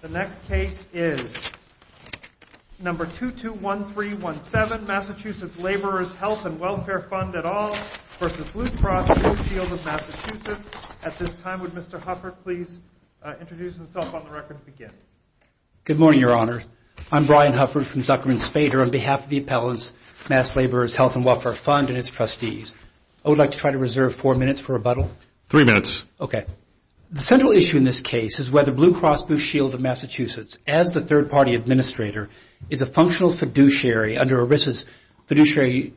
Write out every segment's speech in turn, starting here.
The next case is number 221317, Massachusetts Laborers' Health and Welfare Fund et al. v. Blue Cross Blue Shield of Massachusetts. At this time would Mr. Hufford please introduce himself on the record to begin. Good morning, Your Honor. I'm Brian Hufford from Zuckerman Spader on behalf of the Appellants' Mass Laborers' Health and Welfare Fund and its trustees. I would like to try to reserve four minutes for rebuttal. Three minutes. Okay. The central issue in this case is whether Blue Cross Blue Shield of Massachusetts as the third party administrator is a functional fiduciary under ERISA's fiduciary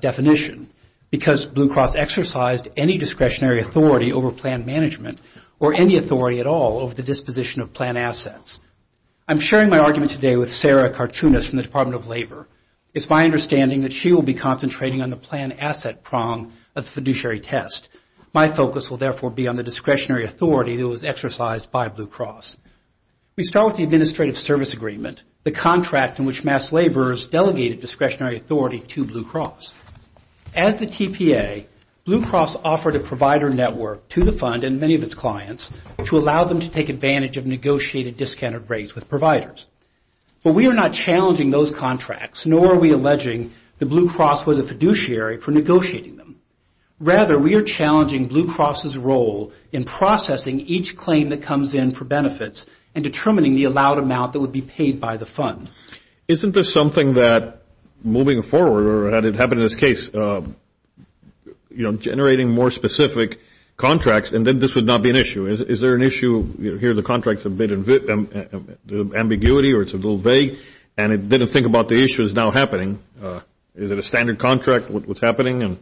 definition because Blue Cross exercised any discretionary authority over plan management or any authority at all over the disposition of plan assets. I'm sharing my argument today with Sarah Karchunas from the Department of Labor. It's my understanding that she will be concentrating on the plan asset prong of the fiduciary test. My focus will therefore be on the discretionary authority that was exercised by Blue Cross. We start with the Administrative Service Agreement, the contract in which Mass Laborers delegated discretionary authority to Blue Cross. As the TPA, Blue Cross offered a provider network to the fund and many of its clients to allow them to take advantage of negotiated discounted rates with providers. But we are not challenging those contracts nor are we alleging that Blue Cross was a fiduciary for role in processing each claim that comes in for benefits and determining the allowed amount that would be paid by the fund. Isn't this something that moving forward or had it happened in this case, you know, generating more specific contracts and then this would not be an issue. Is there an issue here the contracts have been ambiguity or it's a little vague and it didn't think about the issues now happening. Is it a standard contract what's happening?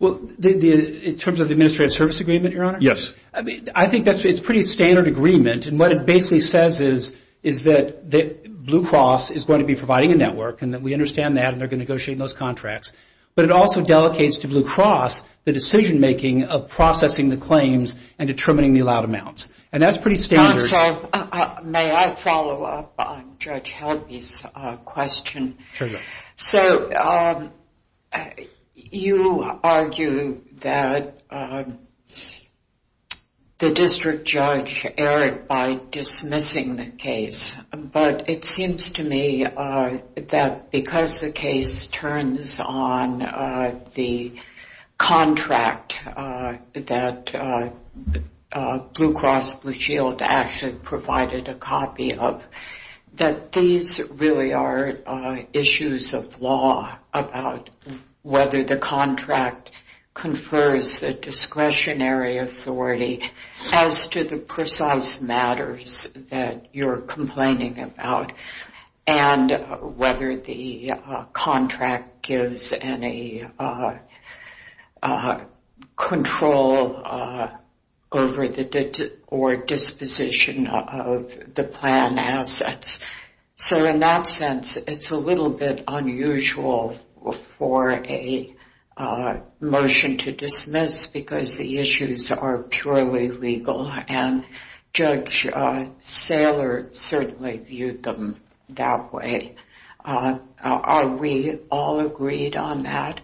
Well, in terms of the Administrative Service Agreement, Your Honor? Yes. I think that's pretty standard agreement and what it basically says is that Blue Cross is going to be providing a network and that we understand that and they're going to negotiate those contracts. But it also delegates to Blue Cross the decision making of processing the claims and determining the allowed amounts. And that's pretty standard. May I follow up on Judge Helby's question? Sure. So you argue that the district judge erred by dismissing the case. But it seems to me that because the case turns on the contract that Blue Cross Blue Shield actually provided a copy of that these really are issues of law about whether the contract confers the discretionary authority as to the precise matters that you're complaining about and whether the contract gives any control over or disposition of the plan assets. So in that sense it's a little bit unusual for a motion to dismiss because the issues are purely legal. And Judge Saylor certainly viewed them that way. Are we all agreed on that?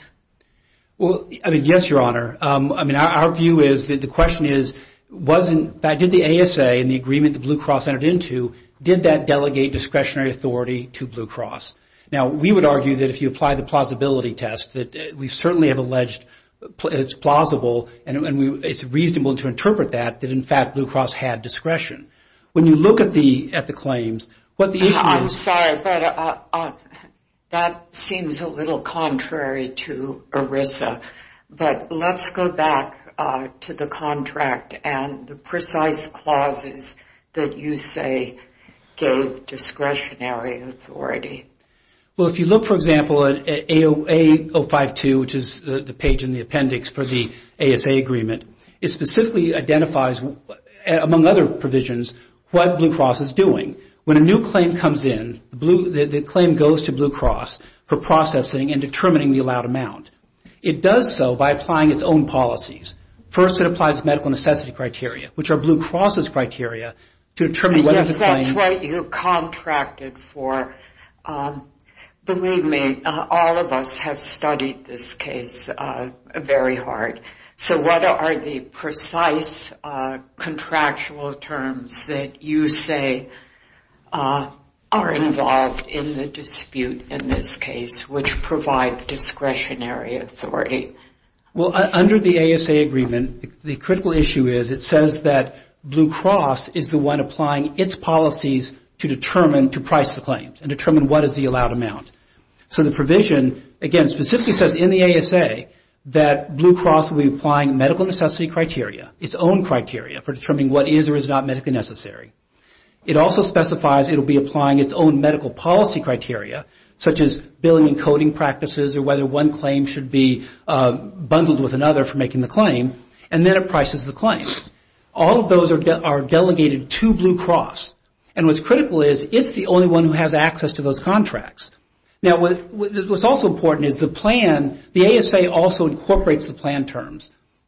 Well, I mean, yes, Your Honor. I mean, our view is that the question is wasn't that did the ASA and the agreement that Blue Cross entered into, did that delegate discretionary authority to Blue Cross? Now, we would argue that if you apply the plausibility test that we certainly have alleged it's plausible and it's reasonable to interpret that that in fact Blue Cross had discretion. When you look at the claims, what the issue is... I'm sorry, but that seems a little contrary to ERISA. But let's go back to the contract and the precise clauses that you say gave discretionary authority. Well, if you look, for example, at AOA 052, which is the page in the appendix for the ASA agreement, it specifically identifies, among other provisions, what Blue Cross is doing. When a new claim comes in, the claim goes to Blue Cross for processing and determining the allowed amount. It does so by applying its own policies. First, it applies medical necessity criteria, which are Blue Cross's criteria, to determine whether the claim... terms that you say are involved in the dispute in this case, which provide discretionary authority. Well, under the ASA agreement, the critical issue is it says that Blue Cross is the one applying its policies to price the claims and determine what is the allowed amount. So the provision, again, specifically says in the ASA that Blue Cross will be applying medical necessity criteria, its own criteria, for determining what is or is not medically necessary. It also specifies it will be applying its own medical policy criteria, such as billing and coding practices or whether one claim should be bundled with another for making the claim, and then it prices the claim. All of those are delegated to Blue Cross. And what's critical is it's the only one who has access to those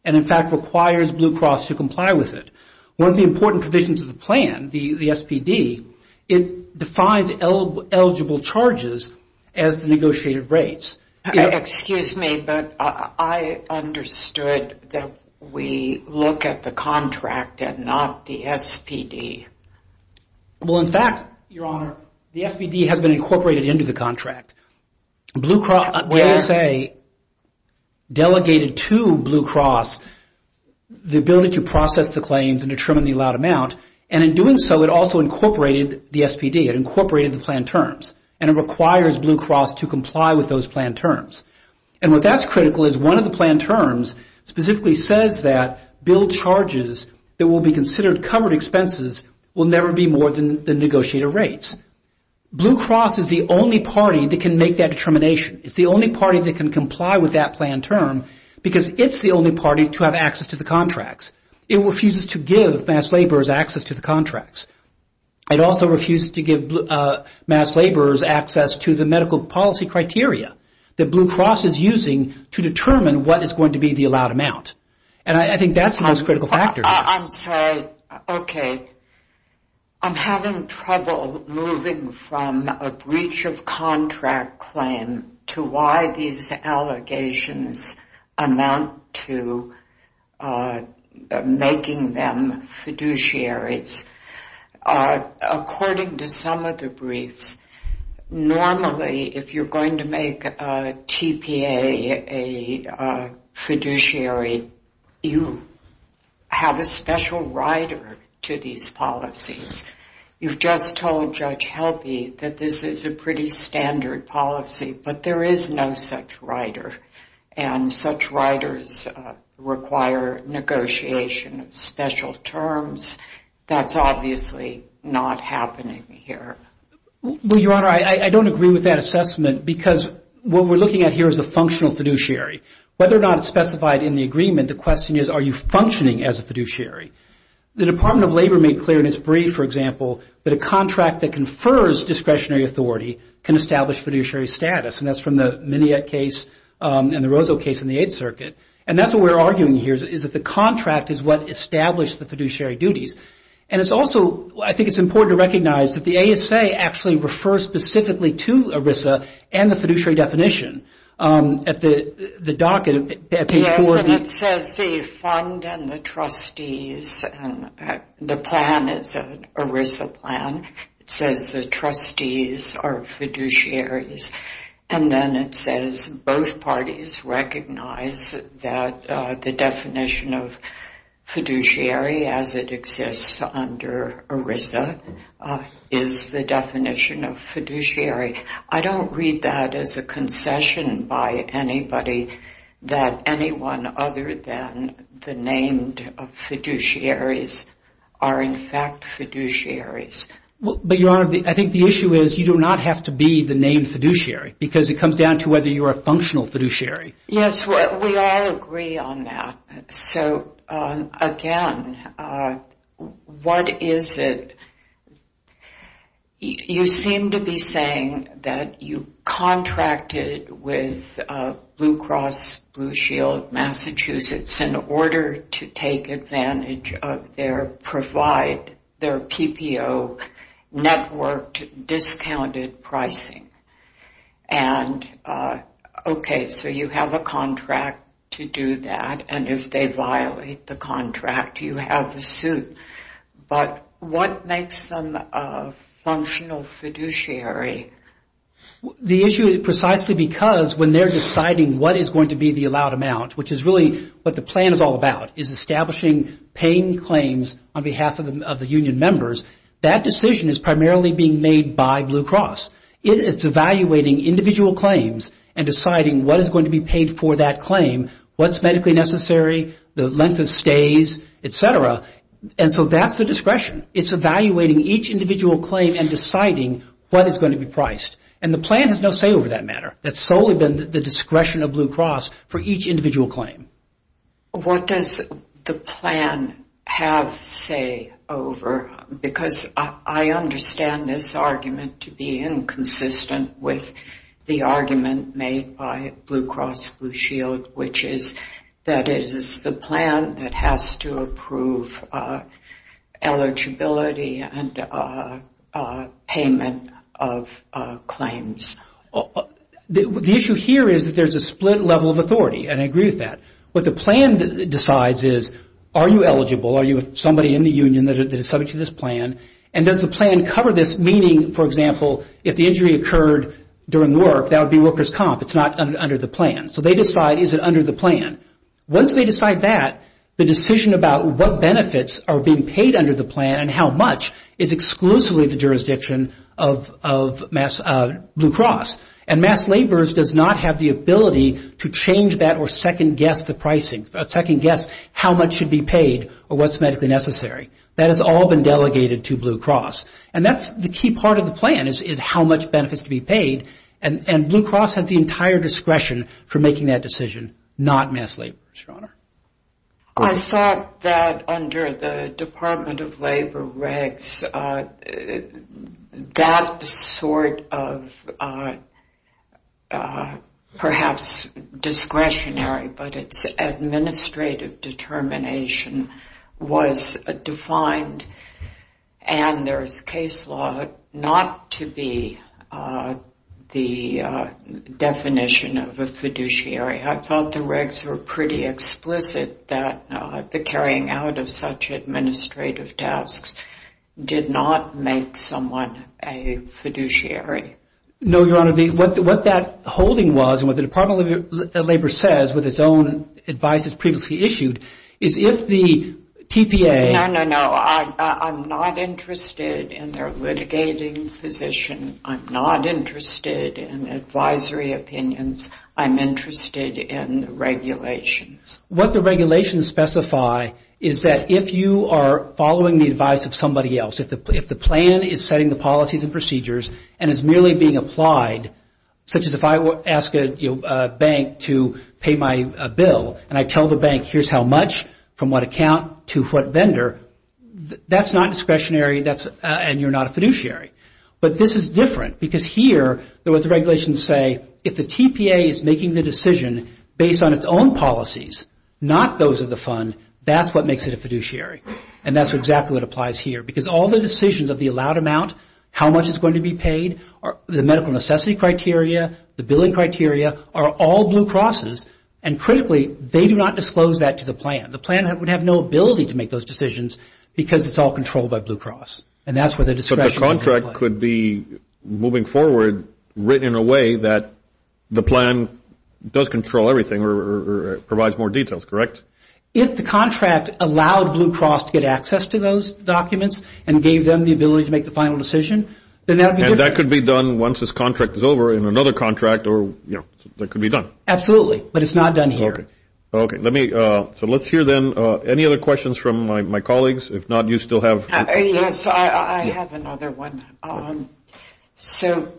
and, in fact, requires Blue Cross to comply with it. One of the important provisions of the plan, the SPD, it defines eligible charges as the negotiated rates. Excuse me, but I understood that we look at the contract and not the SPD. Well, in fact, Your Honor, the SPD has been incorporated into the contract. Blue Cross, the ASA, delegated to Blue Cross the ability to process the claims and determine the allowed amount, and in doing so, it also incorporated the SPD, it incorporated the plan terms, and it requires Blue Cross to comply with those plan terms. And what that's critical is one of the plan terms specifically says that billed charges that will be considered covered expenses will never be more than the negotiated rates. Blue Cross is the only party that can make that determination. It's the only party that can comply with that plan term because it's the only party to have access to the contracts. It refuses to give mass laborers access to the contracts. It also refuses to give mass laborers access to the medical policy criteria that Blue Cross is using to determine what is going to be the allowed amount. And I think that's the most critical factor. I'm sorry. Okay. I'm having trouble moving from a breach of contract claim to why these allegations amount to making them fiduciaries. According to some of the briefs, normally if you're going to make a TPA a fiduciary, you have a special rider to these policies. You've just told Judge Helby that this is a pretty standard policy, but there is no such rider, and such riders require negotiation of That's obviously not happening here. Well, Your Honor, I don't agree with that assessment because what we're looking at here is a functional fiduciary. Whether or not it's specified in the agreement, the question is are you functioning as a fiduciary? The Department of Labor made clear in its brief, for example, that a contract that confers discretionary authority can establish fiduciary status, and that's from the Minniette case and the Roseau case in the Eighth Circuit. And that's what we're arguing here, is that the contract is what established the fiduciary duties. And it's also, I think it's important to recognize that the ASA actually refers specifically to ERISA and the fiduciary definition. At the docket, at page 4. Yes, and it says the fund and the trustees, the plan is an ERISA plan. It says the trustees are fiduciaries. And then it says both parties recognize that the definition of fiduciary as it exists under ERISA is the definition of fiduciary. I don't read that as a concession by anybody that anyone other than the named fiduciaries are in fact fiduciaries. I think the issue is you do not have to be the named fiduciary, because it comes down to whether you're a functional fiduciary. Yes, we all agree on that. So, again, what is it? You seem to be saying that you contracted with Blue Cross Blue Shield Massachusetts in order to take advantage of their PPO networked discounted pricing. And, okay, so you have a contract to do that, and if they violate the contract, you have a suit. But what makes them a functional fiduciary? The issue is precisely because when they're deciding what is going to be the allowed amount, which is really what the plan is all about, is establishing paying claims on behalf of the union members, that decision is primarily being made by Blue Cross. It's evaluating individual claims and deciding what is going to be paid for that claim, what's medically necessary, the length of stays, et cetera, and so that's the discretion. It's evaluating each individual claim and deciding what is going to be priced, and the plan has no say over that matter. That's solely been the discretion of Blue Cross for each individual claim. What does the plan have say over, because I understand this argument to be inconsistent with the argument made by Blue Cross Blue Shield, which is that it is the plan that has to approve eligibility and payment of claims. The issue here is that there's a split level of authority, and I agree with that. What the plan decides is, are you eligible, are you somebody in the union that is subject to this plan, and does the plan cover this, meaning, for example, if the injury occurred during work, that would be worker's comp, it's not under the plan. So they decide, is it under the plan? Once they decide that, the decision about what benefits are being paid under the plan and how much is exclusively the jurisdiction of Blue Cross, and Mass Laborers does not have the ability to change that or second guess the pricing, second guess how much should be paid or what's medically necessary. That has all been delegated to Blue Cross, and that's the key part of the plan is how much benefits to be paid, and Blue Cross has the entire discretion for making that decision, not Mass Laborers, Your Honor. I thought that under the Department of Labor regs, that sort of perhaps discretionary, but it's administrative determination was defined, and there's case law not to be the definition of a fiduciary. I thought the regs were pretty explicit that the carrying out of such administrative tasks did not make someone a fiduciary. No, Your Honor, what that holding was, and what the Department of Labor says with its own advice it's previously issued, is if the TPA... No, no, no, I'm not interested in their litigating position, I'm not interested in advisory opinions, I'm interested in regulations. What the regulations specify is that if you are following the advice of somebody else, if the plan is setting the policies and procedures, and is merely being applied, such as if I ask a bank to pay my bill, and I tell the bank here's how much, from what account to what vendor, that's not discretionary, and you're not a fiduciary, but this is different, because here what the regulations say, if the TPA is making the decision based on its own policies, not those of the fund, that's what makes it a fiduciary, and that's exactly what applies here, because all the decisions of the allowed amount, how much is going to be paid, the medical necessity criteria, the billing criteria, are all Blue Crosses, and critically, they do not disclose that to the plan. The plan would have no ability to make those decisions, because it's all controlled by Blue Cross, and that's where the discretionary applies. But the contract could be, moving forward, written in a way that the plan does control everything, or provides more details, correct? If the contract allowed Blue Cross to get access to those documents, and gave them the ability to make the final decision, then that would be different. And that could be done once this contract is over, in another contract, or that could be done? Absolutely, but it's not done here. Okay, so let's hear then, any other questions from my colleagues? If not, you still have... Yes, I have another one. So,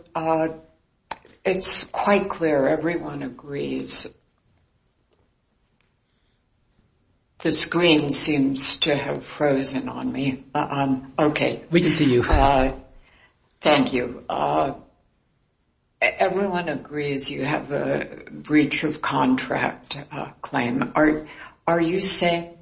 it's quite clear, everyone agrees. The screen seems to have frozen on me. Okay. We can see you. Thank you. So, everyone agrees you have a breach of contract claim. Are you saying,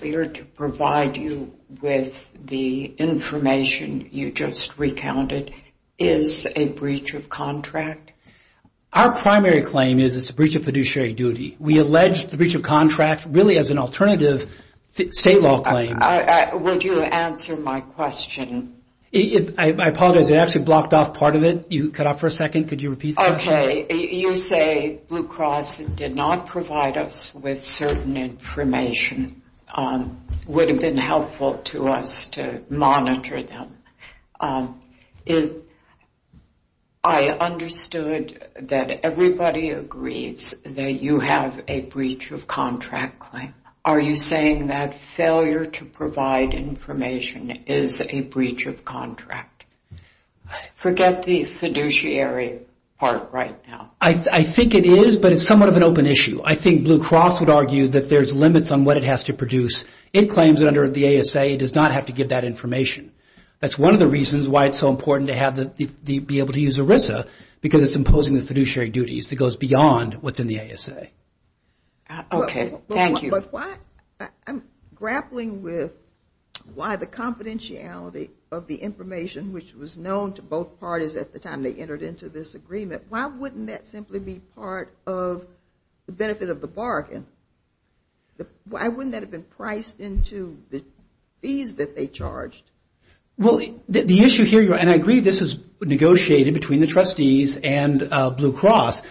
we are to provide you with the information you just recounted, is a breach of contract? Our primary claim is it's a breach of fiduciary duty. We allege the breach of contract, really as an alternative to state law claims. Would you answer my question? I apologize, it actually blocked off part of it. You cut off for a second, could you repeat the question? Okay, you say Blue Cross did not provide us with certain information. Would have been helpful to us to monitor them. I understood that everybody agrees that you have a breach of contract claim. Are you saying that failure to provide information is a breach of contract? Forget the fiduciary part right now. I think it is, but it's somewhat of an open issue. I think Blue Cross would argue that there's limits on what it has to produce. It claims that under the ASA, it does not have to give that information. That's one of the reasons why it's so important to be able to use ERISA, because it's imposing the fiduciary duties that goes beyond what's in the ASA. Okay, thank you. I'm grappling with why the confidentiality of the information which was known to both parties at the time they entered into this agreement, why wouldn't that simply be part of the benefit of the bargain? Why wouldn't that have been priced into the fees that they charged? The issue here, and I agree, this is negotiated between the trustees and Blue Cross,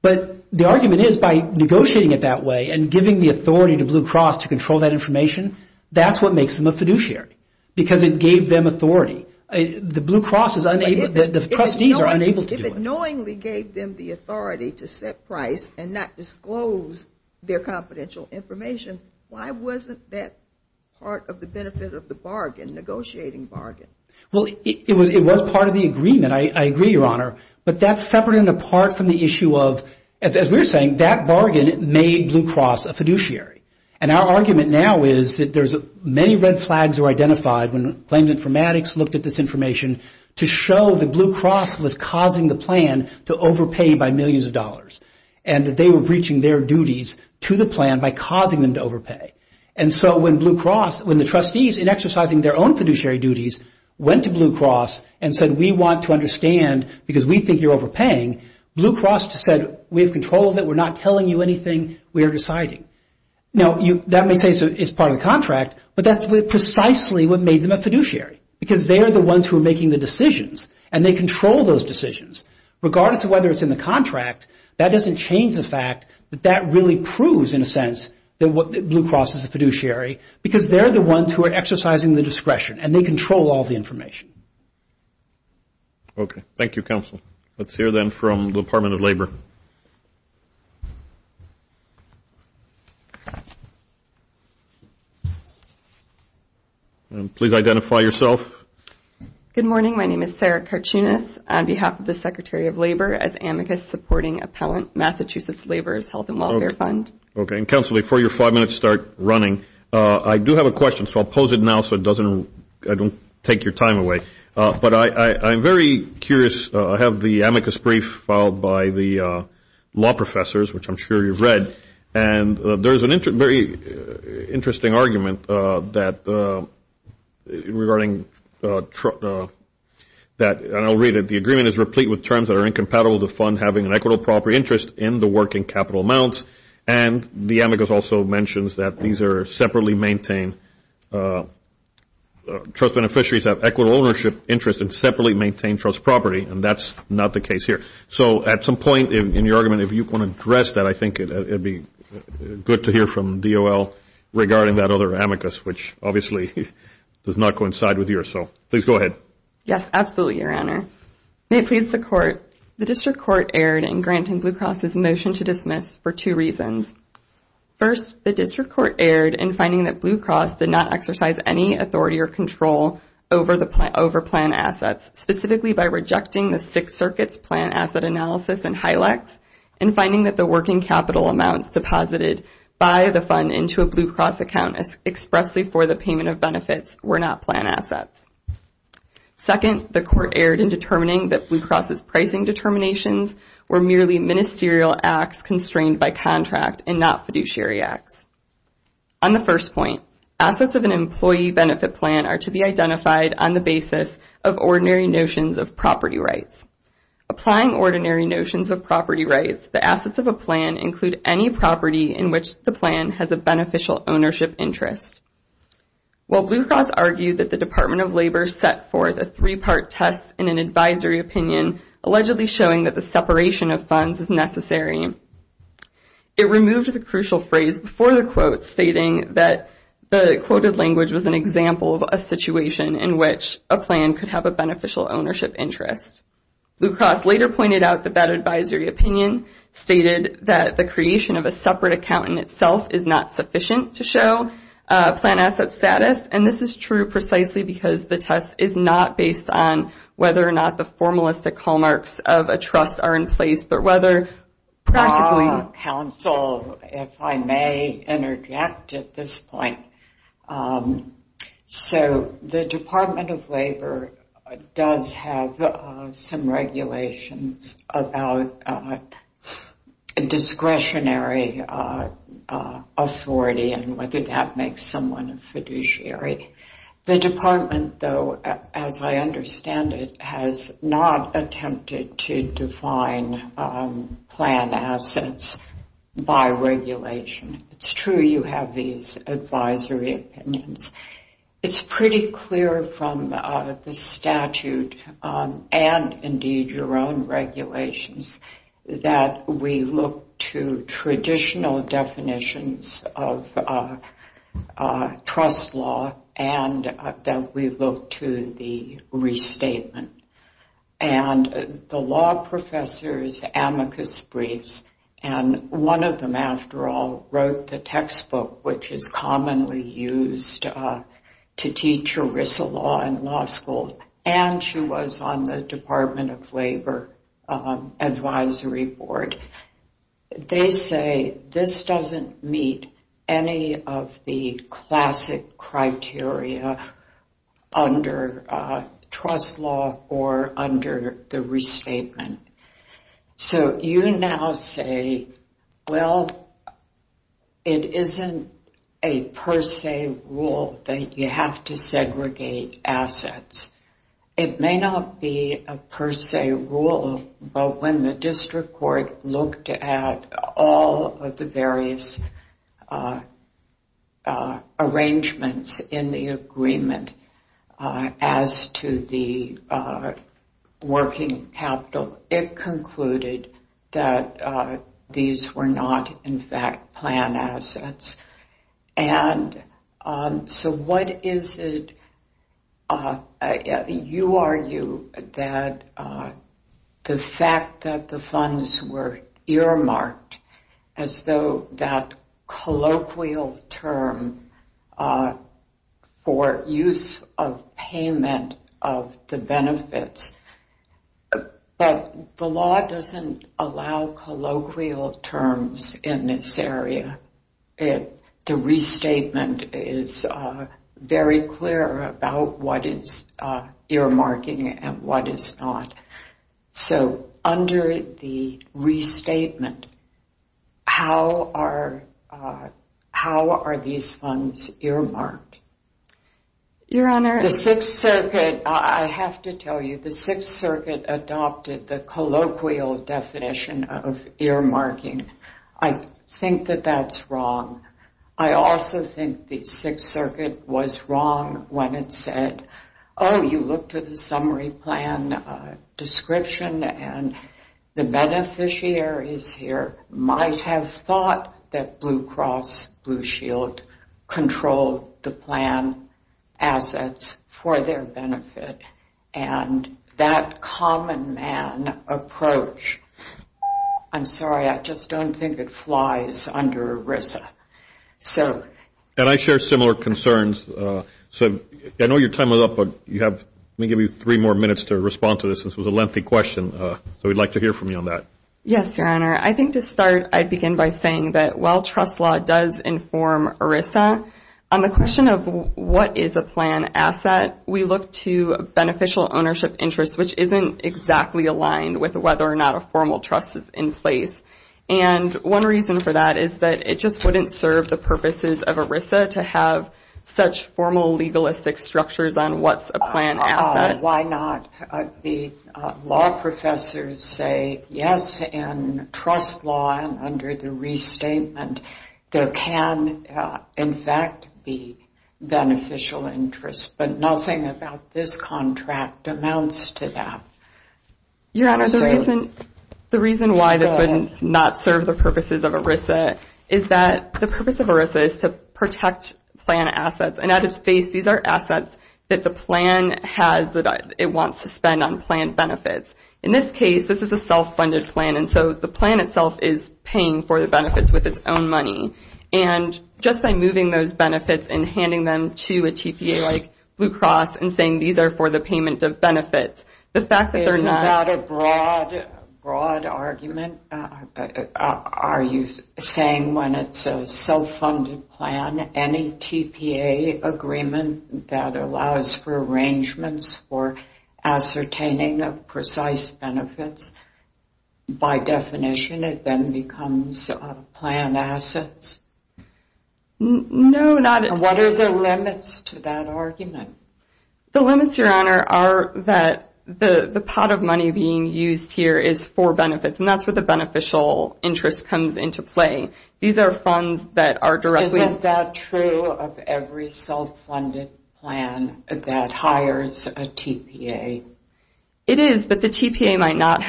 but the argument is by negotiating it that way and giving the authority to Blue Cross to control that information, that's what makes them a fiduciary, because it gave them authority. The Blue Cross is unable, the trustees are unable to do it. If it knowingly gave them the authority to set price and not disclose their confidential information, why wasn't that part of the benefit of the bargain, negotiating bargain? Well, it was part of the agreement. I agree, Your Honor, but that's separate and apart from the issue of, as we're saying, that bargain made Blue Cross a fiduciary. And our argument now is that there's many red flags that were identified when Claims Informatics looked at this information to show that Blue Cross was causing the plan to overpay by millions of dollars and that they were breaching their duties to the plan by causing them to overpay. And so when Blue Cross, when the trustees in exercising their own fiduciary duties went to Blue Cross and said, we want to understand because we think you're overpaying, Blue Cross said, we have control of it. We're not telling you anything. We are deciding. Now, that may say it's part of the contract, but that's precisely what made them a fiduciary, because they are the ones who are making the decisions and they control those decisions. Regardless of whether it's in the contract, that doesn't change the fact that that really proves, in a sense, that Blue Cross is a fiduciary, because they're the ones who are exercising the discretion and they control all the information. Okay. Thank you, Counsel. Let's hear then from the Department of Labor. Please identify yourself. Good morning. My name is Sarah Karchunas on behalf of the Secretary of Labor as amicus supporting appellant, Massachusetts Laborers' Health and Welfare Fund. Okay. And, Counsel, before your five minutes start running, I do have a question, so I'll pose it now so I don't take your time away. But I'm very curious. I have the amicus brief filed by the law professors, which I'm sure you've read, and there's a very interesting argument regarding that. And I'll read it. The agreement is replete with terms that are incompatible to fund having an equitable property interest in the working capital amounts. And the amicus also mentions that these are separately maintained. Trust beneficiaries have equitable ownership interest in separately maintained trust property, and that's not the case here. So at some point in your argument, if you want to address that, I think it would be good to hear from DOL regarding that other amicus, which obviously does not coincide with yours. So please go ahead. Yes, absolutely, Your Honor. May it please the Court, the District Court erred in granting Blue Cross's motion to dismiss for two reasons. First, the District Court erred in finding that Blue Cross did not exercise any authority or control over plan assets, specifically by rejecting the Sixth Circuit's plan asset analysis and HILACs, and finding that the working capital amounts deposited by the fund into a Blue Cross account expressly for the payment of benefits were not plan assets. Second, the Court erred in determining that Blue Cross's pricing determinations were merely ministerial acts constrained by contract and not fiduciary acts. On the first point, assets of an employee benefit plan are to be identified on the basis of ordinary notions of property rights. Applying ordinary notions of property rights, the assets of a plan include any property in which the plan has a beneficial ownership interest. While Blue Cross argued that the Department of Labor set forth a three-part test in an advisory opinion, allegedly showing that the separation of funds is necessary, it removed the crucial phrase before the quote stating that the quoted language was an example of a situation in which a plan could have a beneficial ownership interest. Blue Cross later pointed out that that advisory opinion stated that the creation of a separate account in itself is not sufficient to show plan asset status, and this is true precisely because the test is not based on whether or not the formalistic hallmarks of a trust are in place, but whether practically. Counsel, if I may interject at this point. So the Department of Labor does have some regulations about discretionary authority and whether that makes someone a fiduciary. The department, though, as I understand it, has not attempted to define plan assets by regulation. It's true you have these advisory opinions. It's pretty clear from the statute and, indeed, your own regulations, that we look to traditional definitions of trust law and that we look to the restatement. And the law professor's amicus briefs, and one of them, after all, wrote the textbook which is commonly used to teach ERISA law in law advisory board. They say this doesn't meet any of the classic criteria under trust law or under the restatement. So you now say, well, it isn't a per se rule that you have to segregate assets. It may not be a per se rule, but when the district court looked at all of the various arrangements in the agreement as to the working capital, it concluded that these were not, in fact, plan assets. And so what is it? You argue that the fact that the funds were earmarked as though that colloquial term for use of payment of the benefits, but the law doesn't allow colloquial terms in this area. The restatement is very clear about what is earmarking and what is not. So under the restatement, how are these funds earmarked? Your Honor, the Sixth Circuit, I have to tell you, the Sixth Circuit adopted the colloquial definition of earmarking. I think that that's wrong. I also think the Sixth Circuit was wrong when it said, oh, you looked at the summary plan description and the beneficiaries here might have thought that Blue Cross Blue Shield controlled the plan assets for their benefit and that common man approach. I'm sorry, I just don't think it flies under ERISA. And I share similar concerns. I know your time is up, but let me give you three more minutes to respond to this. This was a lengthy question, so we'd like to hear from you on that. Yes, Your Honor. I think to start, I'd begin by saying that while trust law does inform ERISA, on the question of what is a plan asset, we look to beneficial ownership interest, which isn't exactly aligned with whether or not a formal trust is in place. And one reason for that is that it just wouldn't serve the purposes of ERISA to have such formal legalistic structures on what's a plan asset. Why not? The law professors say, yes, in trust law and under the restatement, there can, in fact, be beneficial interest. But nothing about this contract amounts to that. Your Honor, the reason why this would not serve the purposes of ERISA is that the purpose of ERISA is to protect plan assets. And at its base, these are assets that the plan has that it wants to spend on plan benefits. In this case, this is a self-funded plan, and so the plan itself is paying for the benefits with its own money. And just by moving those benefits and handing them to a TPA like Blue Cross and saying these are for the payment of benefits, the fact that they're not. This is not a broad argument. Are you saying when it's a self-funded plan, any TPA agreement that allows for arrangements for ascertaining of precise benefits, by definition it then becomes plan assets? No, not at all. And what are the limits to that argument? The limits, Your Honor, are that the pot of money being used here is for benefits, and that's where the beneficial interest comes into play. These are funds that are directly. Isn't that true of every self-funded plan that hires a TPA? It is, but the TPA might not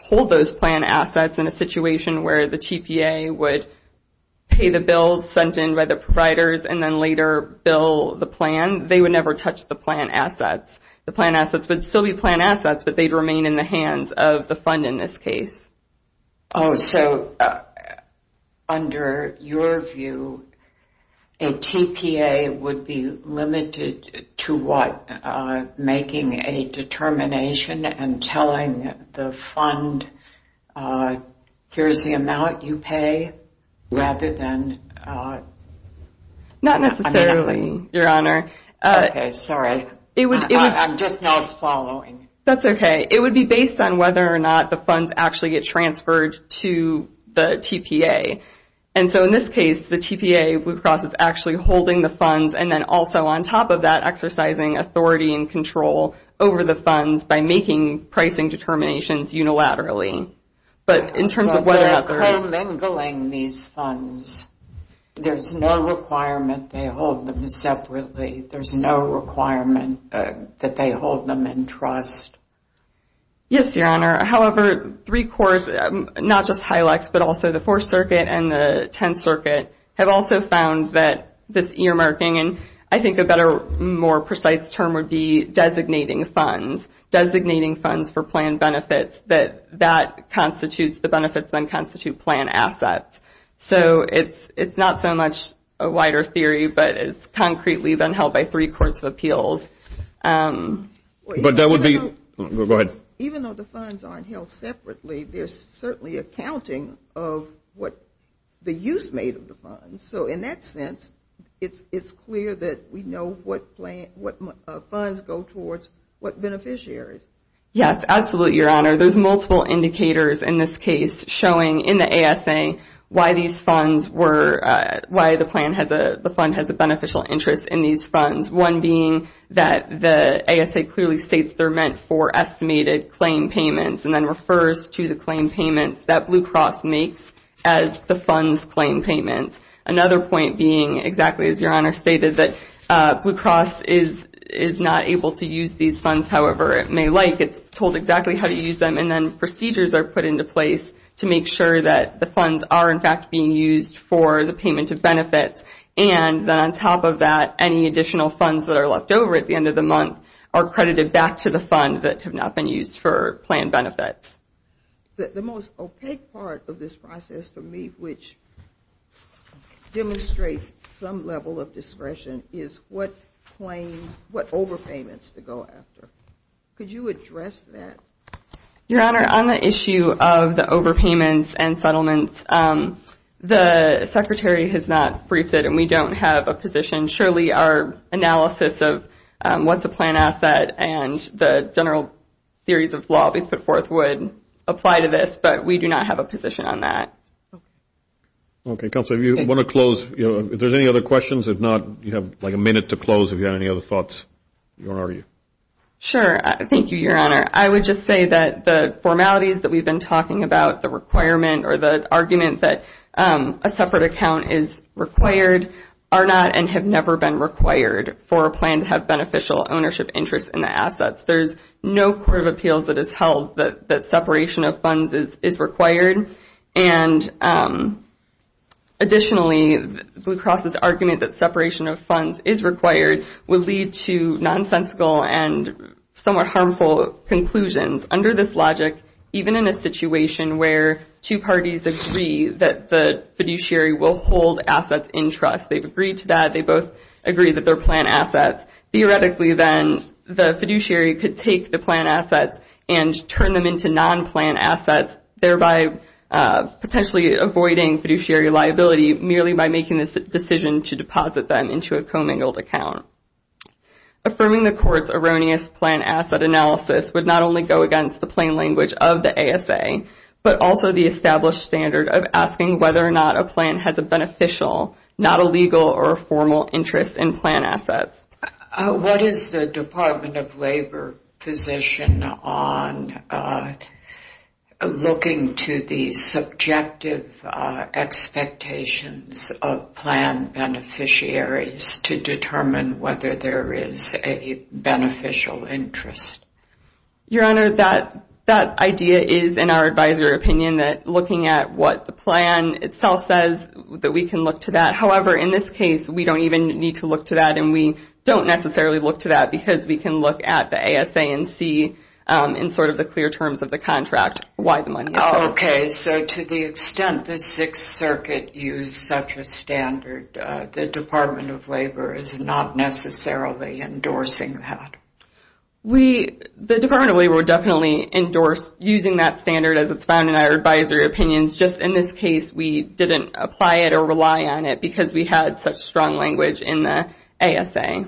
hold those plan assets in a situation where the TPA would pay the bills sent in by the providers and then later bill the plan. They would never touch the plan assets. The plan assets would still be plan assets, but they'd remain in the hands of the fund in this case. Oh, so under your view, a TPA would be limited to what, making a determination and telling the fund, here's the amount you pay, rather than? Not necessarily, Your Honor. Okay, sorry. I'm just not following. That's okay. It would be based on whether or not the funds actually get transferred to the TPA. And so in this case, the TPA, Blue Cross, is actually holding the funds and then also on top of that exercising authority and control over the funds by making pricing determinations unilaterally. But in terms of whether or not they're— They're co-mingling these funds. There's no requirement they hold them separately. There's no requirement that they hold them in trust. Yes, Your Honor. However, three cores, not just HILEX, but also the Fourth Circuit and the Tenth Circuit, have also found that this earmarking, and I think a better, more precise term would be designating funds, designating funds for plan benefits, that that constitutes the benefits that constitute plan assets. So it's not so much a wider theory, but it's concretely been held by three courts of appeals. But that would be— Go ahead. Even though the funds aren't held separately, there's certainly accounting of what the use made of the funds. So in that sense, it's clear that we know what funds go towards what beneficiaries. Yes, absolutely, Your Honor. There's multiple indicators in this case showing in the ASA why these funds were— why the plan has a—the fund has a beneficial interest in these funds. One being that the ASA clearly states they're meant for estimated claim payments and then refers to the claim payments that Blue Cross makes as the funds claim payments. Another point being, exactly as Your Honor stated, that Blue Cross is not able to use these funds however it may like. It's told exactly how to use them and then procedures are put into place to make sure that the funds are, in fact, being used for the payment of benefits. And then on top of that, any additional funds that are left over at the end of the month are credited back to the fund that have not been used for plan benefits. The most opaque part of this process for me, which demonstrates some level of discretion, is what claims—what overpayments to go after. Could you address that? Your Honor, on the issue of the overpayments and settlements, the Secretary has not briefed it and we don't have a position. Surely our analysis of what's a plan asset and the general theories of law we put forth would apply to this, but we do not have a position on that. Okay. Okay, Counselor, if you want to close, if there's any other questions, if not, you have like a minute to close if you have any other thoughts, Your Honor. Sure. Thank you, Your Honor. I would just say that the formalities that we've been talking about, the requirement or the argument that a separate account is required are not and have never been required for a plan to have beneficial ownership interest in the assets. There's no Court of Appeals that has held that separation of funds is required. And additionally, Blue Cross's argument that separation of funds is required will lead to nonsensical and somewhat harmful conclusions. Under this logic, even in a situation where two parties agree that the fiduciary will hold assets in trust, they've agreed to that, they both agree that they're plan assets, theoretically then the fiduciary could take the plan assets and turn them into non-plan assets, thereby potentially avoiding fiduciary liability merely by making this decision to deposit them into a commingled account. Affirming the court's erroneous plan asset analysis would not only go against the plain language of the ASA, but also the established standard of asking whether or not a plan has a beneficial, not illegal or formal interest in plan assets. What is the Department of Labor position on looking to the subjective expectations of plan beneficiaries to determine whether there is a beneficial interest? Your Honor, that idea is, in our advisory opinion, that looking at what the plan itself says that we can look to that. However, in this case, we don't even need to look to that and we don't necessarily look to that because we can look at the ASANC in sort of the clear terms of the contract, why the money is there. Okay, so to the extent the Sixth Circuit used such a standard, the Department of Labor is not necessarily endorsing that. The Department of Labor would definitely endorse using that standard as it's found in our advisory opinions. Just in this case, we didn't apply it or rely on it because we had such strong language in the ASA.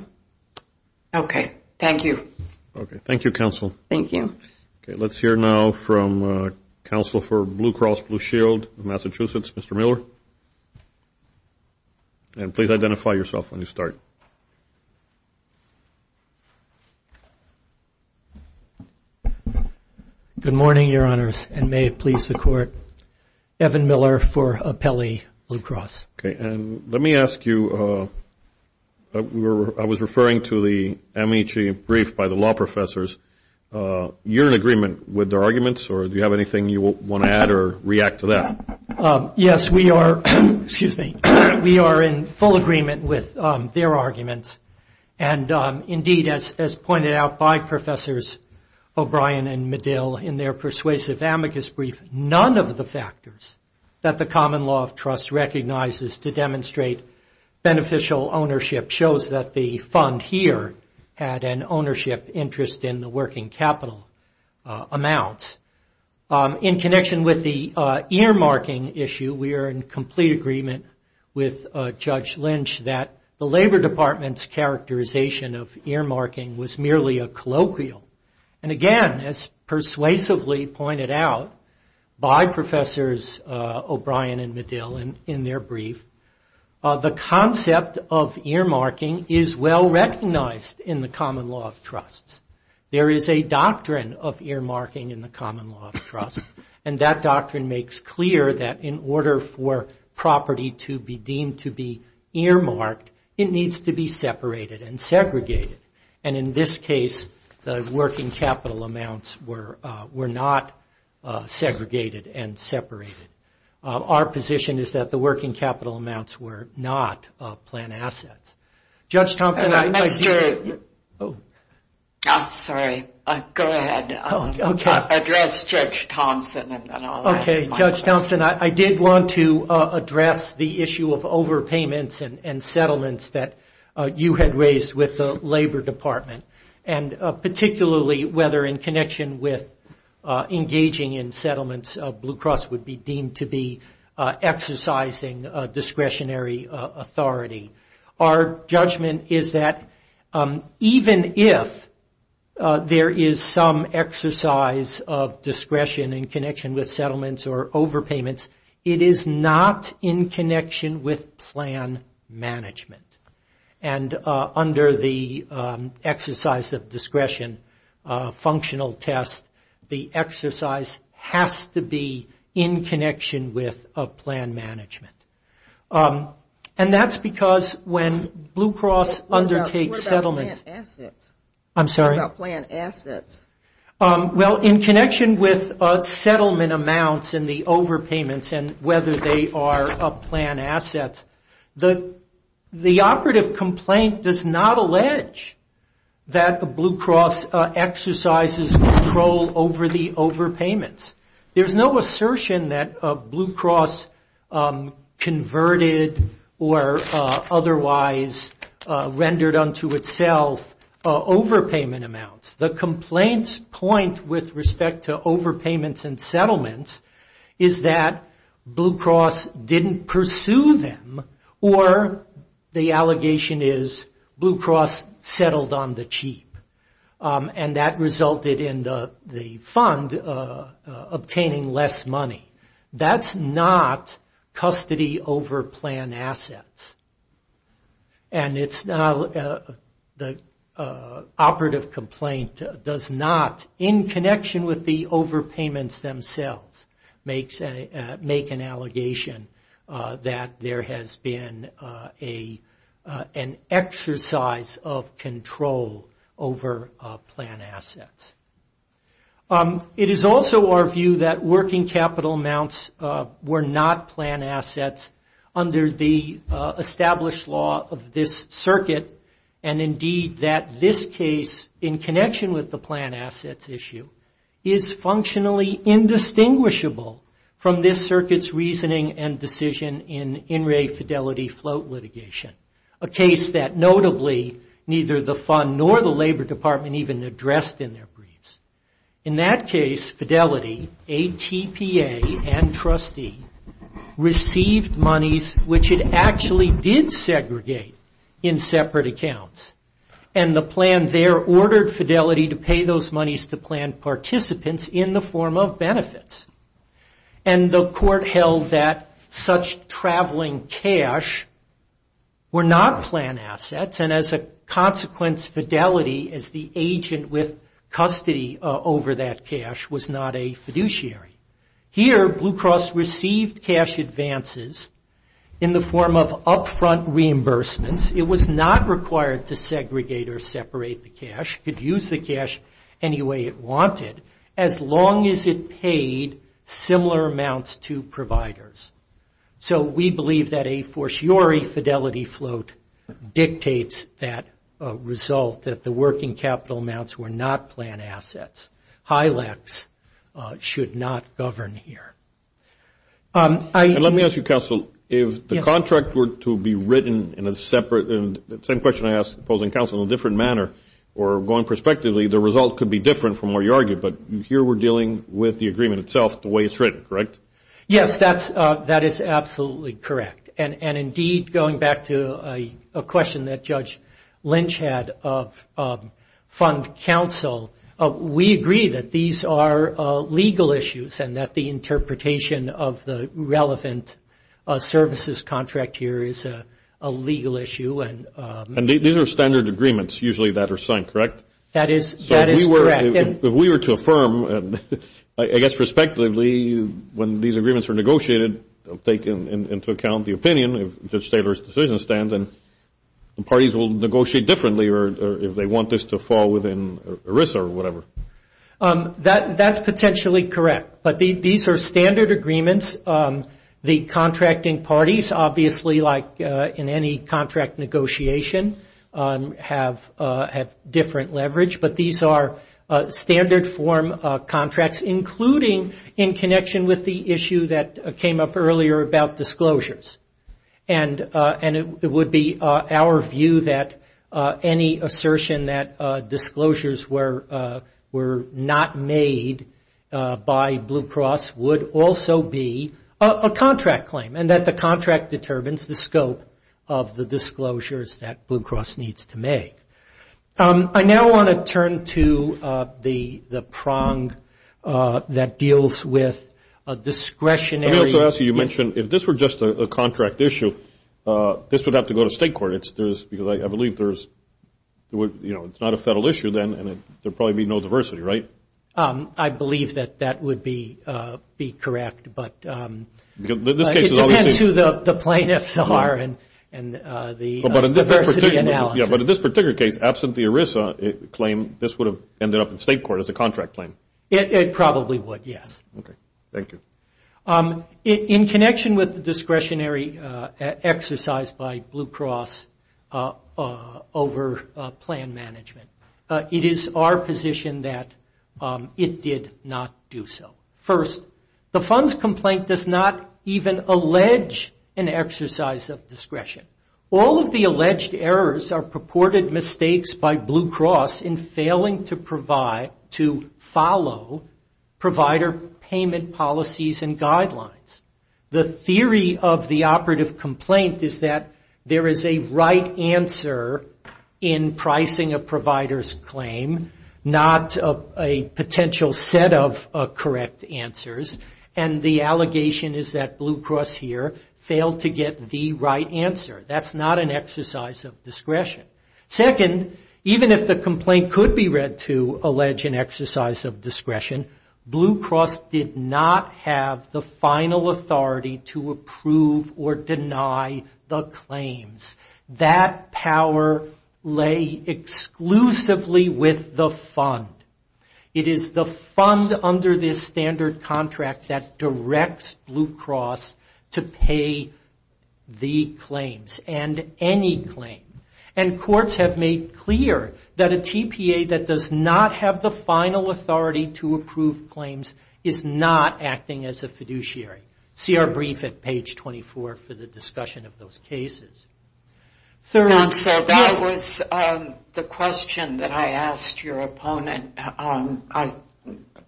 Okay, thank you. Okay, thank you, Counsel. Thank you. Okay, let's hear now from Counsel for Blue Cross Blue Shield of Massachusetts, Mr. Miller. And please identify yourself when you start. Good morning, Your Honors, and may it please the Court. Evan Miller for Apelli Blue Cross. Okay, and let me ask you, I was referring to the amicus brief by the law professors. You're in agreement with their arguments, or do you have anything you want to add or react to that? Yes, we are in full agreement with their arguments. And indeed, as pointed out by Professors O'Brien and Medill in their persuasive amicus brief, none of the factors that the common law of trust recognizes to demonstrate beneficial ownership shows that the fund here had an ownership interest in the working capital amounts. In connection with the earmarking issue, we are in complete agreement with Judge Lynch that the Labor Department's characterization of earmarking was merely a colloquial. And again, as persuasively pointed out by Professors O'Brien and Medill in their brief, the concept of earmarking is well recognized in the common law of trust. There is a doctrine of earmarking in the common law of trust, and that doctrine makes clear that in order for property to be deemed to be earmarked, it needs to be separated and segregated. And in this case, the working capital amounts were not segregated and separated. Our position is that the working capital amounts were not planned assets. Judge Thompson, I did want to address the issue of overpayments and settlements that you had raised with the Labor Department, and particularly whether in connection with engaging in settlements, Blue Cross would be deemed to be exercising discretionary authority. Our judgment is that even if there is some exercise of discretion in connection with settlements or overpayments, it is not in connection with plan management. And under the exercise of discretion functional test, the exercise has to be in connection with plan management. And that's because when Blue Cross undertakes settlements... What about planned assets? I'm sorry? What about planned assets? Well, in connection with settlement amounts and the overpayments and whether they are planned assets, the operative complaint does not allege that Blue Cross exercises control over the overpayments. There's no assertion that Blue Cross converted or otherwise rendered unto itself overpayment amounts. The complaint's point with respect to overpayments and settlements is that Blue Cross didn't pursue them, or the allegation is Blue Cross settled on the cheap. And that resulted in the fund obtaining less money. That's not custody over planned assets. And the operative complaint does not, in connection with the overpayments themselves, make an allegation that there has been an exercise of control over planned assets. It is also our view that working capital amounts were not planned assets under the established law of this circuit, and indeed that this case, in connection with the planned assets issue, is functionally indistinguishable from this circuit's reasoning and decision in In Re Fidelity float litigation, a case that notably neither the fund nor the Labor Department even addressed in their briefs. In that case, Fidelity, ATPA and trustee, received monies which it actually did segregate in separate accounts, and the plan there ordered Fidelity to pay those monies to planned participants in the form of benefits. And the court held that such traveling cash were not planned assets, and as a consequence, Fidelity, as the agent with custody over that cash, was not a fiduciary. Here, Blue Cross received cash advances in the form of upfront reimbursements. It was not required to segregate or separate the cash. It could use the cash any way it wanted, as long as it paid similar amounts to providers. So we believe that a fortiori Fidelity float dictates that result, that the working capital amounts were not planned assets. HILACs should not govern here. Let me ask you, counsel, if the contract were to be written in a separate, same question I asked opposing counsel in a different manner, or going prospectively, the result could be different from what you argued, but here we're dealing with the agreement itself the way it's written, correct? Yes, that is absolutely correct. And indeed, going back to a question that Judge Lynch had of fund counsel, we agree that these are legal issues, and that the interpretation of the relevant services contract here is a legal issue. And these are standard agreements, usually, that are signed, correct? That is correct. If we were to affirm, I guess, prospectively, when these agreements are negotiated, take into account the opinion of Judge Taylor's decision stands, and parties will negotiate differently if they want this to fall within ERISA or whatever. That's potentially correct. But these are standard agreements. The contracting parties, obviously, like in any contract negotiation, have different leverage. But these are standard form contracts, including in connection with the issue that came up earlier about disclosures. And it would be our view that any assertion that disclosures were not made by Blue Cross would also be a contract claim, and that the contract determines the scope of the disclosures that Blue Cross needs to make. I now want to turn to the prong that deals with discretionary... Let me also ask you, you mentioned if this were just a contract issue, this would have to go to state court, because I believe it's not a federal issue then, and there would probably be no diversity, right? I believe that that would be correct. It depends who the plaintiffs are and the diversity analysis. Yeah, but in this particular case, absent the ERISA claim, this would have ended up in state court as a contract claim. It probably would, yes. Okay, thank you. In connection with the discretionary exercise by Blue Cross over plan management, it is our position that it did not do so. First, the funds complaint does not even allege an exercise of discretion. All of the alleged errors are purported mistakes by Blue Cross in failing to follow provider payment policies and guidelines. The theory of the operative complaint is that there is a right answer in pricing a provider's claim, not a potential set of correct answers, and the allegation is that Blue Cross here failed to get the right answer. That's not an exercise of discretion. Second, even if the complaint could be read to allege an exercise of discretion, Blue Cross did not have the final authority to approve or deny the claims. That power lay exclusively with the fund. It is the fund under this standard contract that directs Blue Cross to pay the claims and any claim. Courts have made clear that a TPA that does not have the final authority to approve claims is not acting as a fiduciary. See our brief at page 24 for the discussion of those cases. Third answer, that was the question that I asked your opponent. I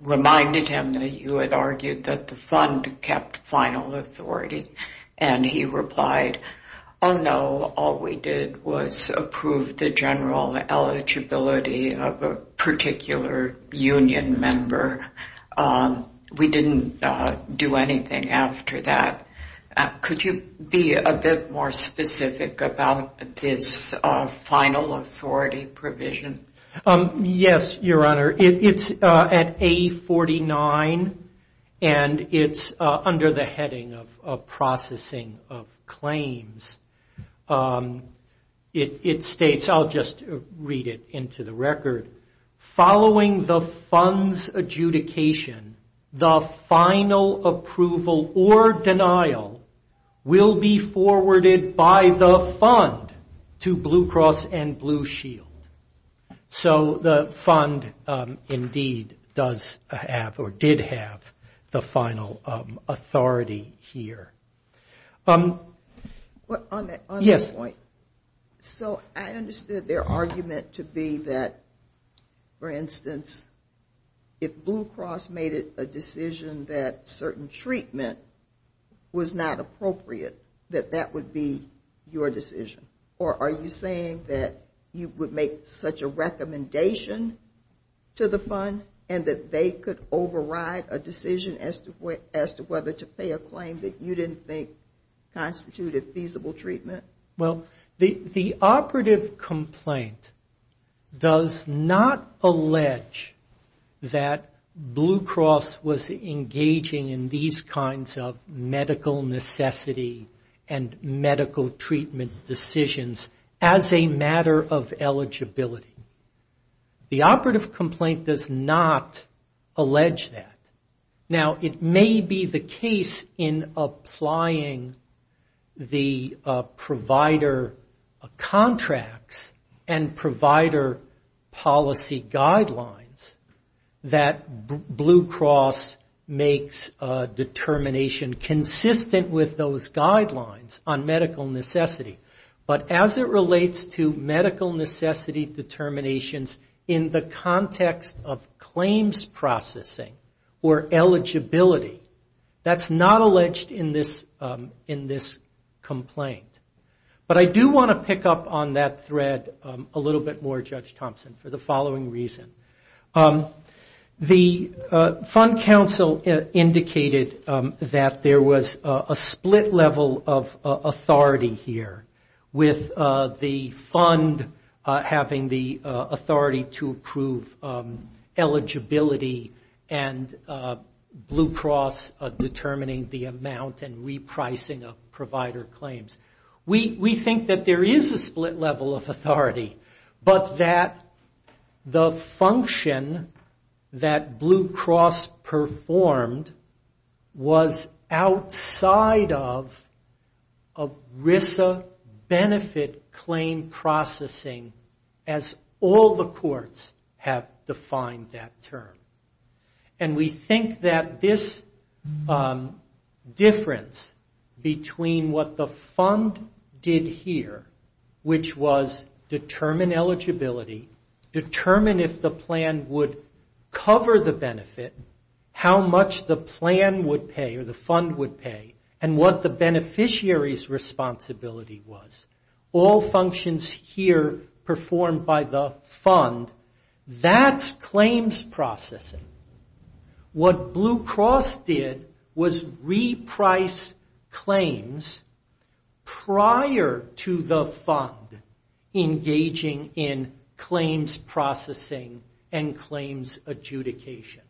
reminded him that you had argued that the fund kept final authority, and he replied, oh, no, all we did was approve the general eligibility of a particular union member. We didn't do anything after that. Could you be a bit more specific about this final authority provision? Yes, Your Honor. It's at A49, and it's under the heading of processing of claims. It states, I'll just read it into the record, following the fund's adjudication, the final approval or denial will be forwarded by the fund to Blue Cross and Blue Shield. The fund indeed does have or did have the final authority here. On that point, so I understood their argument to be that, for instance, if Blue Cross made a decision that certain treatment was not appropriate, that that would be your decision. Or are you saying that you would make such a recommendation to the fund and that they could override a decision as to whether to pay a claim that you didn't think constituted feasible treatment? Well, the operative complaint does not allege that Blue Cross was engaging in these kinds of medical necessity and medical treatment decisions as a matter of eligibility. The operative complaint does not allege that. Now, it may be the case in applying the provider contracts and provider policy guidelines that Blue Cross makes a determination consistent with those guidelines on medical necessity. But as it relates to medical necessity determinations in the context of claims processing or eligibility, that's not alleged in this complaint. But I do want to pick up on that thread a little bit more, Judge Thompson, for the following reason. The fund counsel indicated that there was a split level of authority here with the fund having the authority to approve eligibility and Blue Cross determining the amount and repricing of provider claims. We think that there is a split level of authority, but that the function that Blue Cross performed was outside of ERISA benefit claim processing, as all the courts have defined that term. And we think that this difference between what the fund did here, which was determine eligibility, determine if the plan would cover the benefit, how much the plan would pay or the fund would pay, and what the beneficiary's responsibility was, all functions here performed by the fund, that's claims processing. What Blue Cross did was reprice claims prior to the fund engaging in claims processing and claims adjudication.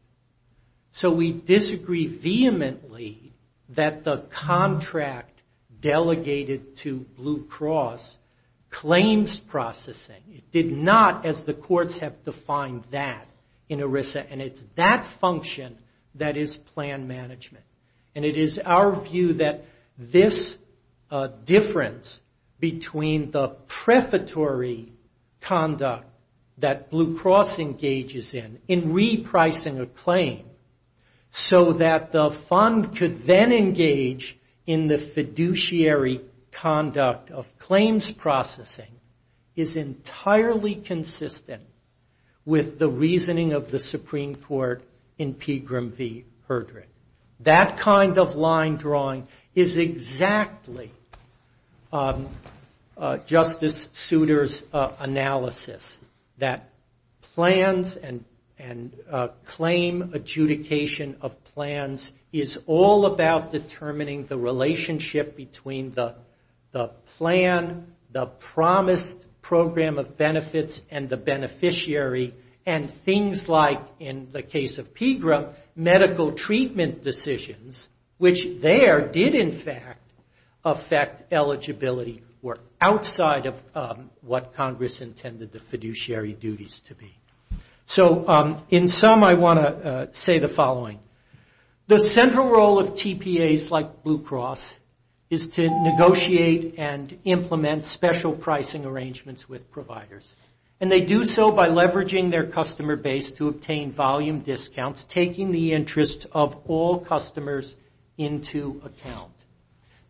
So we disagree vehemently that the contract delegated to Blue Cross claims processing did not, as the courts have defined that in ERISA, and it's that function that is plan management. And it is our view that this difference between the prefatory conduct that Blue Cross engages in, in repricing a claim, so that the fund could then engage in the fiduciary conduct of claims processing, is entirely consistent with the reasoning of the Supreme Court in Pegram v. Herdrick. That kind of line drawing is exactly Justice Souter's analysis, that plans and claim adjudication of plans is all about determining the relationship between the plan, the promised program of benefits and the beneficiary, and things like, in the case of Pegram, medical treatment decisions, which there did in fact affect eligibility were outside of what Congress intended the fiduciary duties to be. So in sum, I want to say the following. The central role of TPAs like Blue Cross is to negotiate and implement special pricing arrangements with providers. And they do so by leveraging their customer base to obtain volume discounts, taking the interest of all customers into account.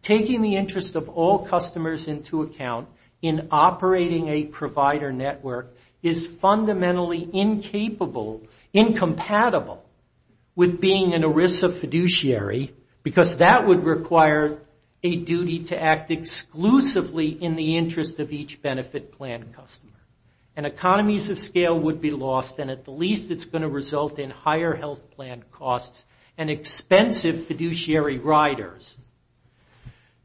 Taking the interest of all customers into account in operating a provider network is fundamentally incapable, incompatible, with being an ERISA fiduciary, because that would require a duty to act exclusively in the interest of each benefit plan customer. And economies of scale would be lost, and at the least it's going to result in higher health plan costs and expensive fiduciary riders.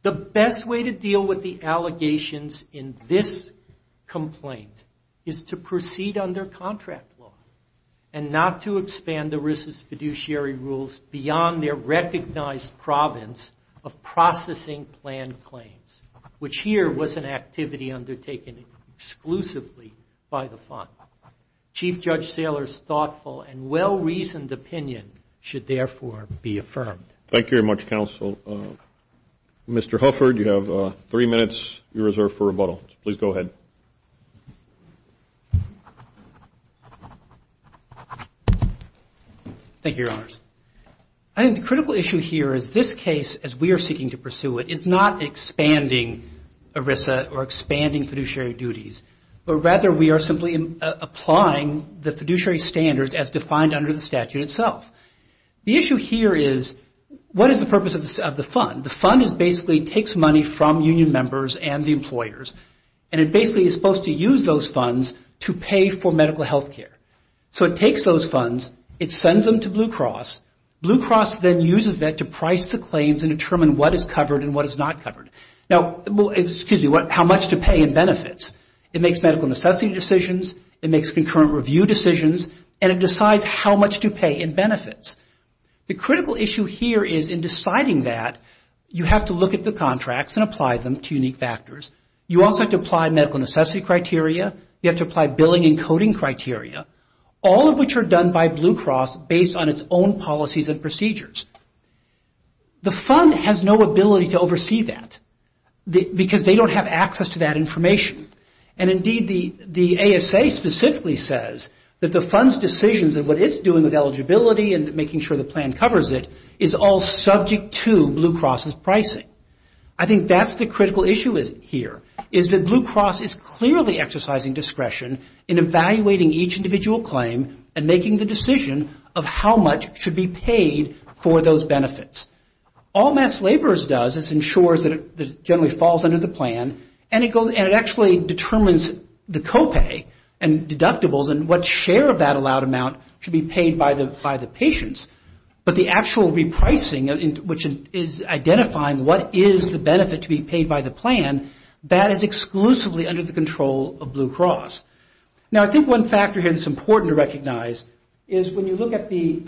The best way to deal with the allegations in this complaint is to proceed under contract law and not to expand the ERISA's fiduciary rules beyond their recognized province of processing plan claims, which here was an activity undertaken exclusively by the fund. Chief Judge Saylor's thoughtful and well-reasoned opinion should therefore be affirmed. Thank you very much, counsel. Mr. Hufford, you have three minutes reserved for rebuttal. Please go ahead. Thank you, Your Honors. I think the critical issue here is this case, as we are seeking to pursue it, is not expanding ERISA or expanding fiduciary duties, but rather we are simply applying the fiduciary standards as defined under the statute itself. The issue here is what is the purpose of the fund? The fund basically takes money from union members and the employers, and it basically is supposed to use those funds to pay for medical health care. So it takes those funds. It sends them to Blue Cross. Blue Cross then uses that to price the claims and determine what is covered and what is not covered. Now, excuse me, how much to pay in benefits. It makes medical necessity decisions. It makes concurrent review decisions. And it decides how much to pay in benefits. The critical issue here is in deciding that, you have to look at the contracts and apply them to unique factors. You also have to apply medical necessity criteria. You have to apply billing and coding criteria, all of which are done by Blue Cross based on its own policies and procedures. The fund has no ability to oversee that because they don't have access to that information. And indeed, the ASA specifically says that the fund's decisions and what it's doing with eligibility and making sure the plan covers it is all subject to Blue Cross's pricing. I think that's the critical issue here, is that Blue Cross is clearly exercising discretion in evaluating each individual claim and making the decision of how much should be paid for those benefits. All mass laborers does is ensures that it generally falls under the plan and it actually determines the copay and deductibles and what share of that allowed amount should be paid by the patients. But the actual repricing, which is identifying what is the benefit to be paid by the plan, that is exclusively under the control of Blue Cross. Now, I think one factor here that's important to recognize is when you look at the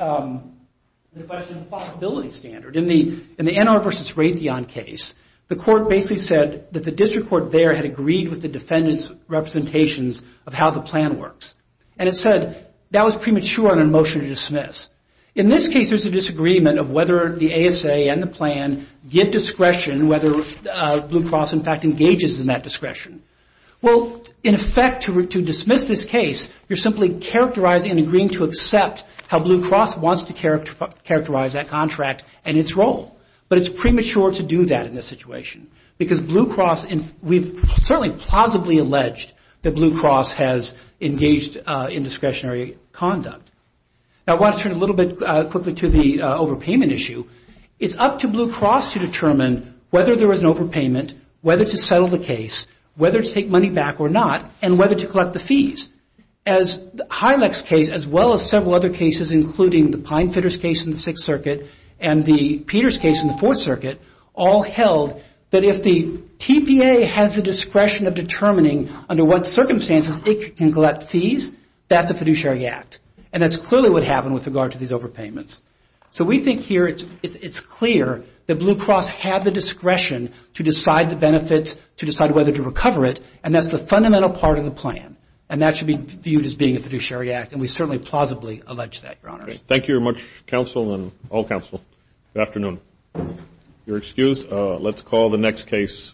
question of possibility standard. In the NR versus Raytheon case, the court basically said that the district court there had agreed with the defendant's representations of how the plan works. And it said that was premature on a motion to dismiss. In this case, there's a disagreement of whether the ASA and the plan give discretion, whether Blue Cross in fact engages in that discretion. Well, in effect, to dismiss this case, you're simply characterizing and agreeing to accept how Blue Cross wants to characterize that contract and its role. But it's premature to do that in this situation. Because Blue Cross, we've certainly plausibly alleged that Blue Cross has engaged in discretionary conduct. Now, I want to turn a little bit quickly to the overpayment issue. It's up to Blue Cross to determine whether there is an overpayment, whether to settle the case, whether to take money back or not, and whether to collect the fees. As Hynek's case, as well as several other cases, including the Pinefitter's case in the Sixth Circuit and the Peters case in the Fourth Circuit, all held that if the TPA has the discretion of determining under what circumstances it can collect fees, that's a fiduciary act. And that's clearly what happened with regard to these overpayments. So we think here it's clear that Blue Cross had the discretion to decide the benefit, to decide whether to recover it, and that's the fundamental part of the plan. And that should be viewed as being a fiduciary act, and we certainly plausibly allege that, Your Honors. Thank you very much, counsel, and all counsel. Good afternoon. If you're excused, let's call the next case.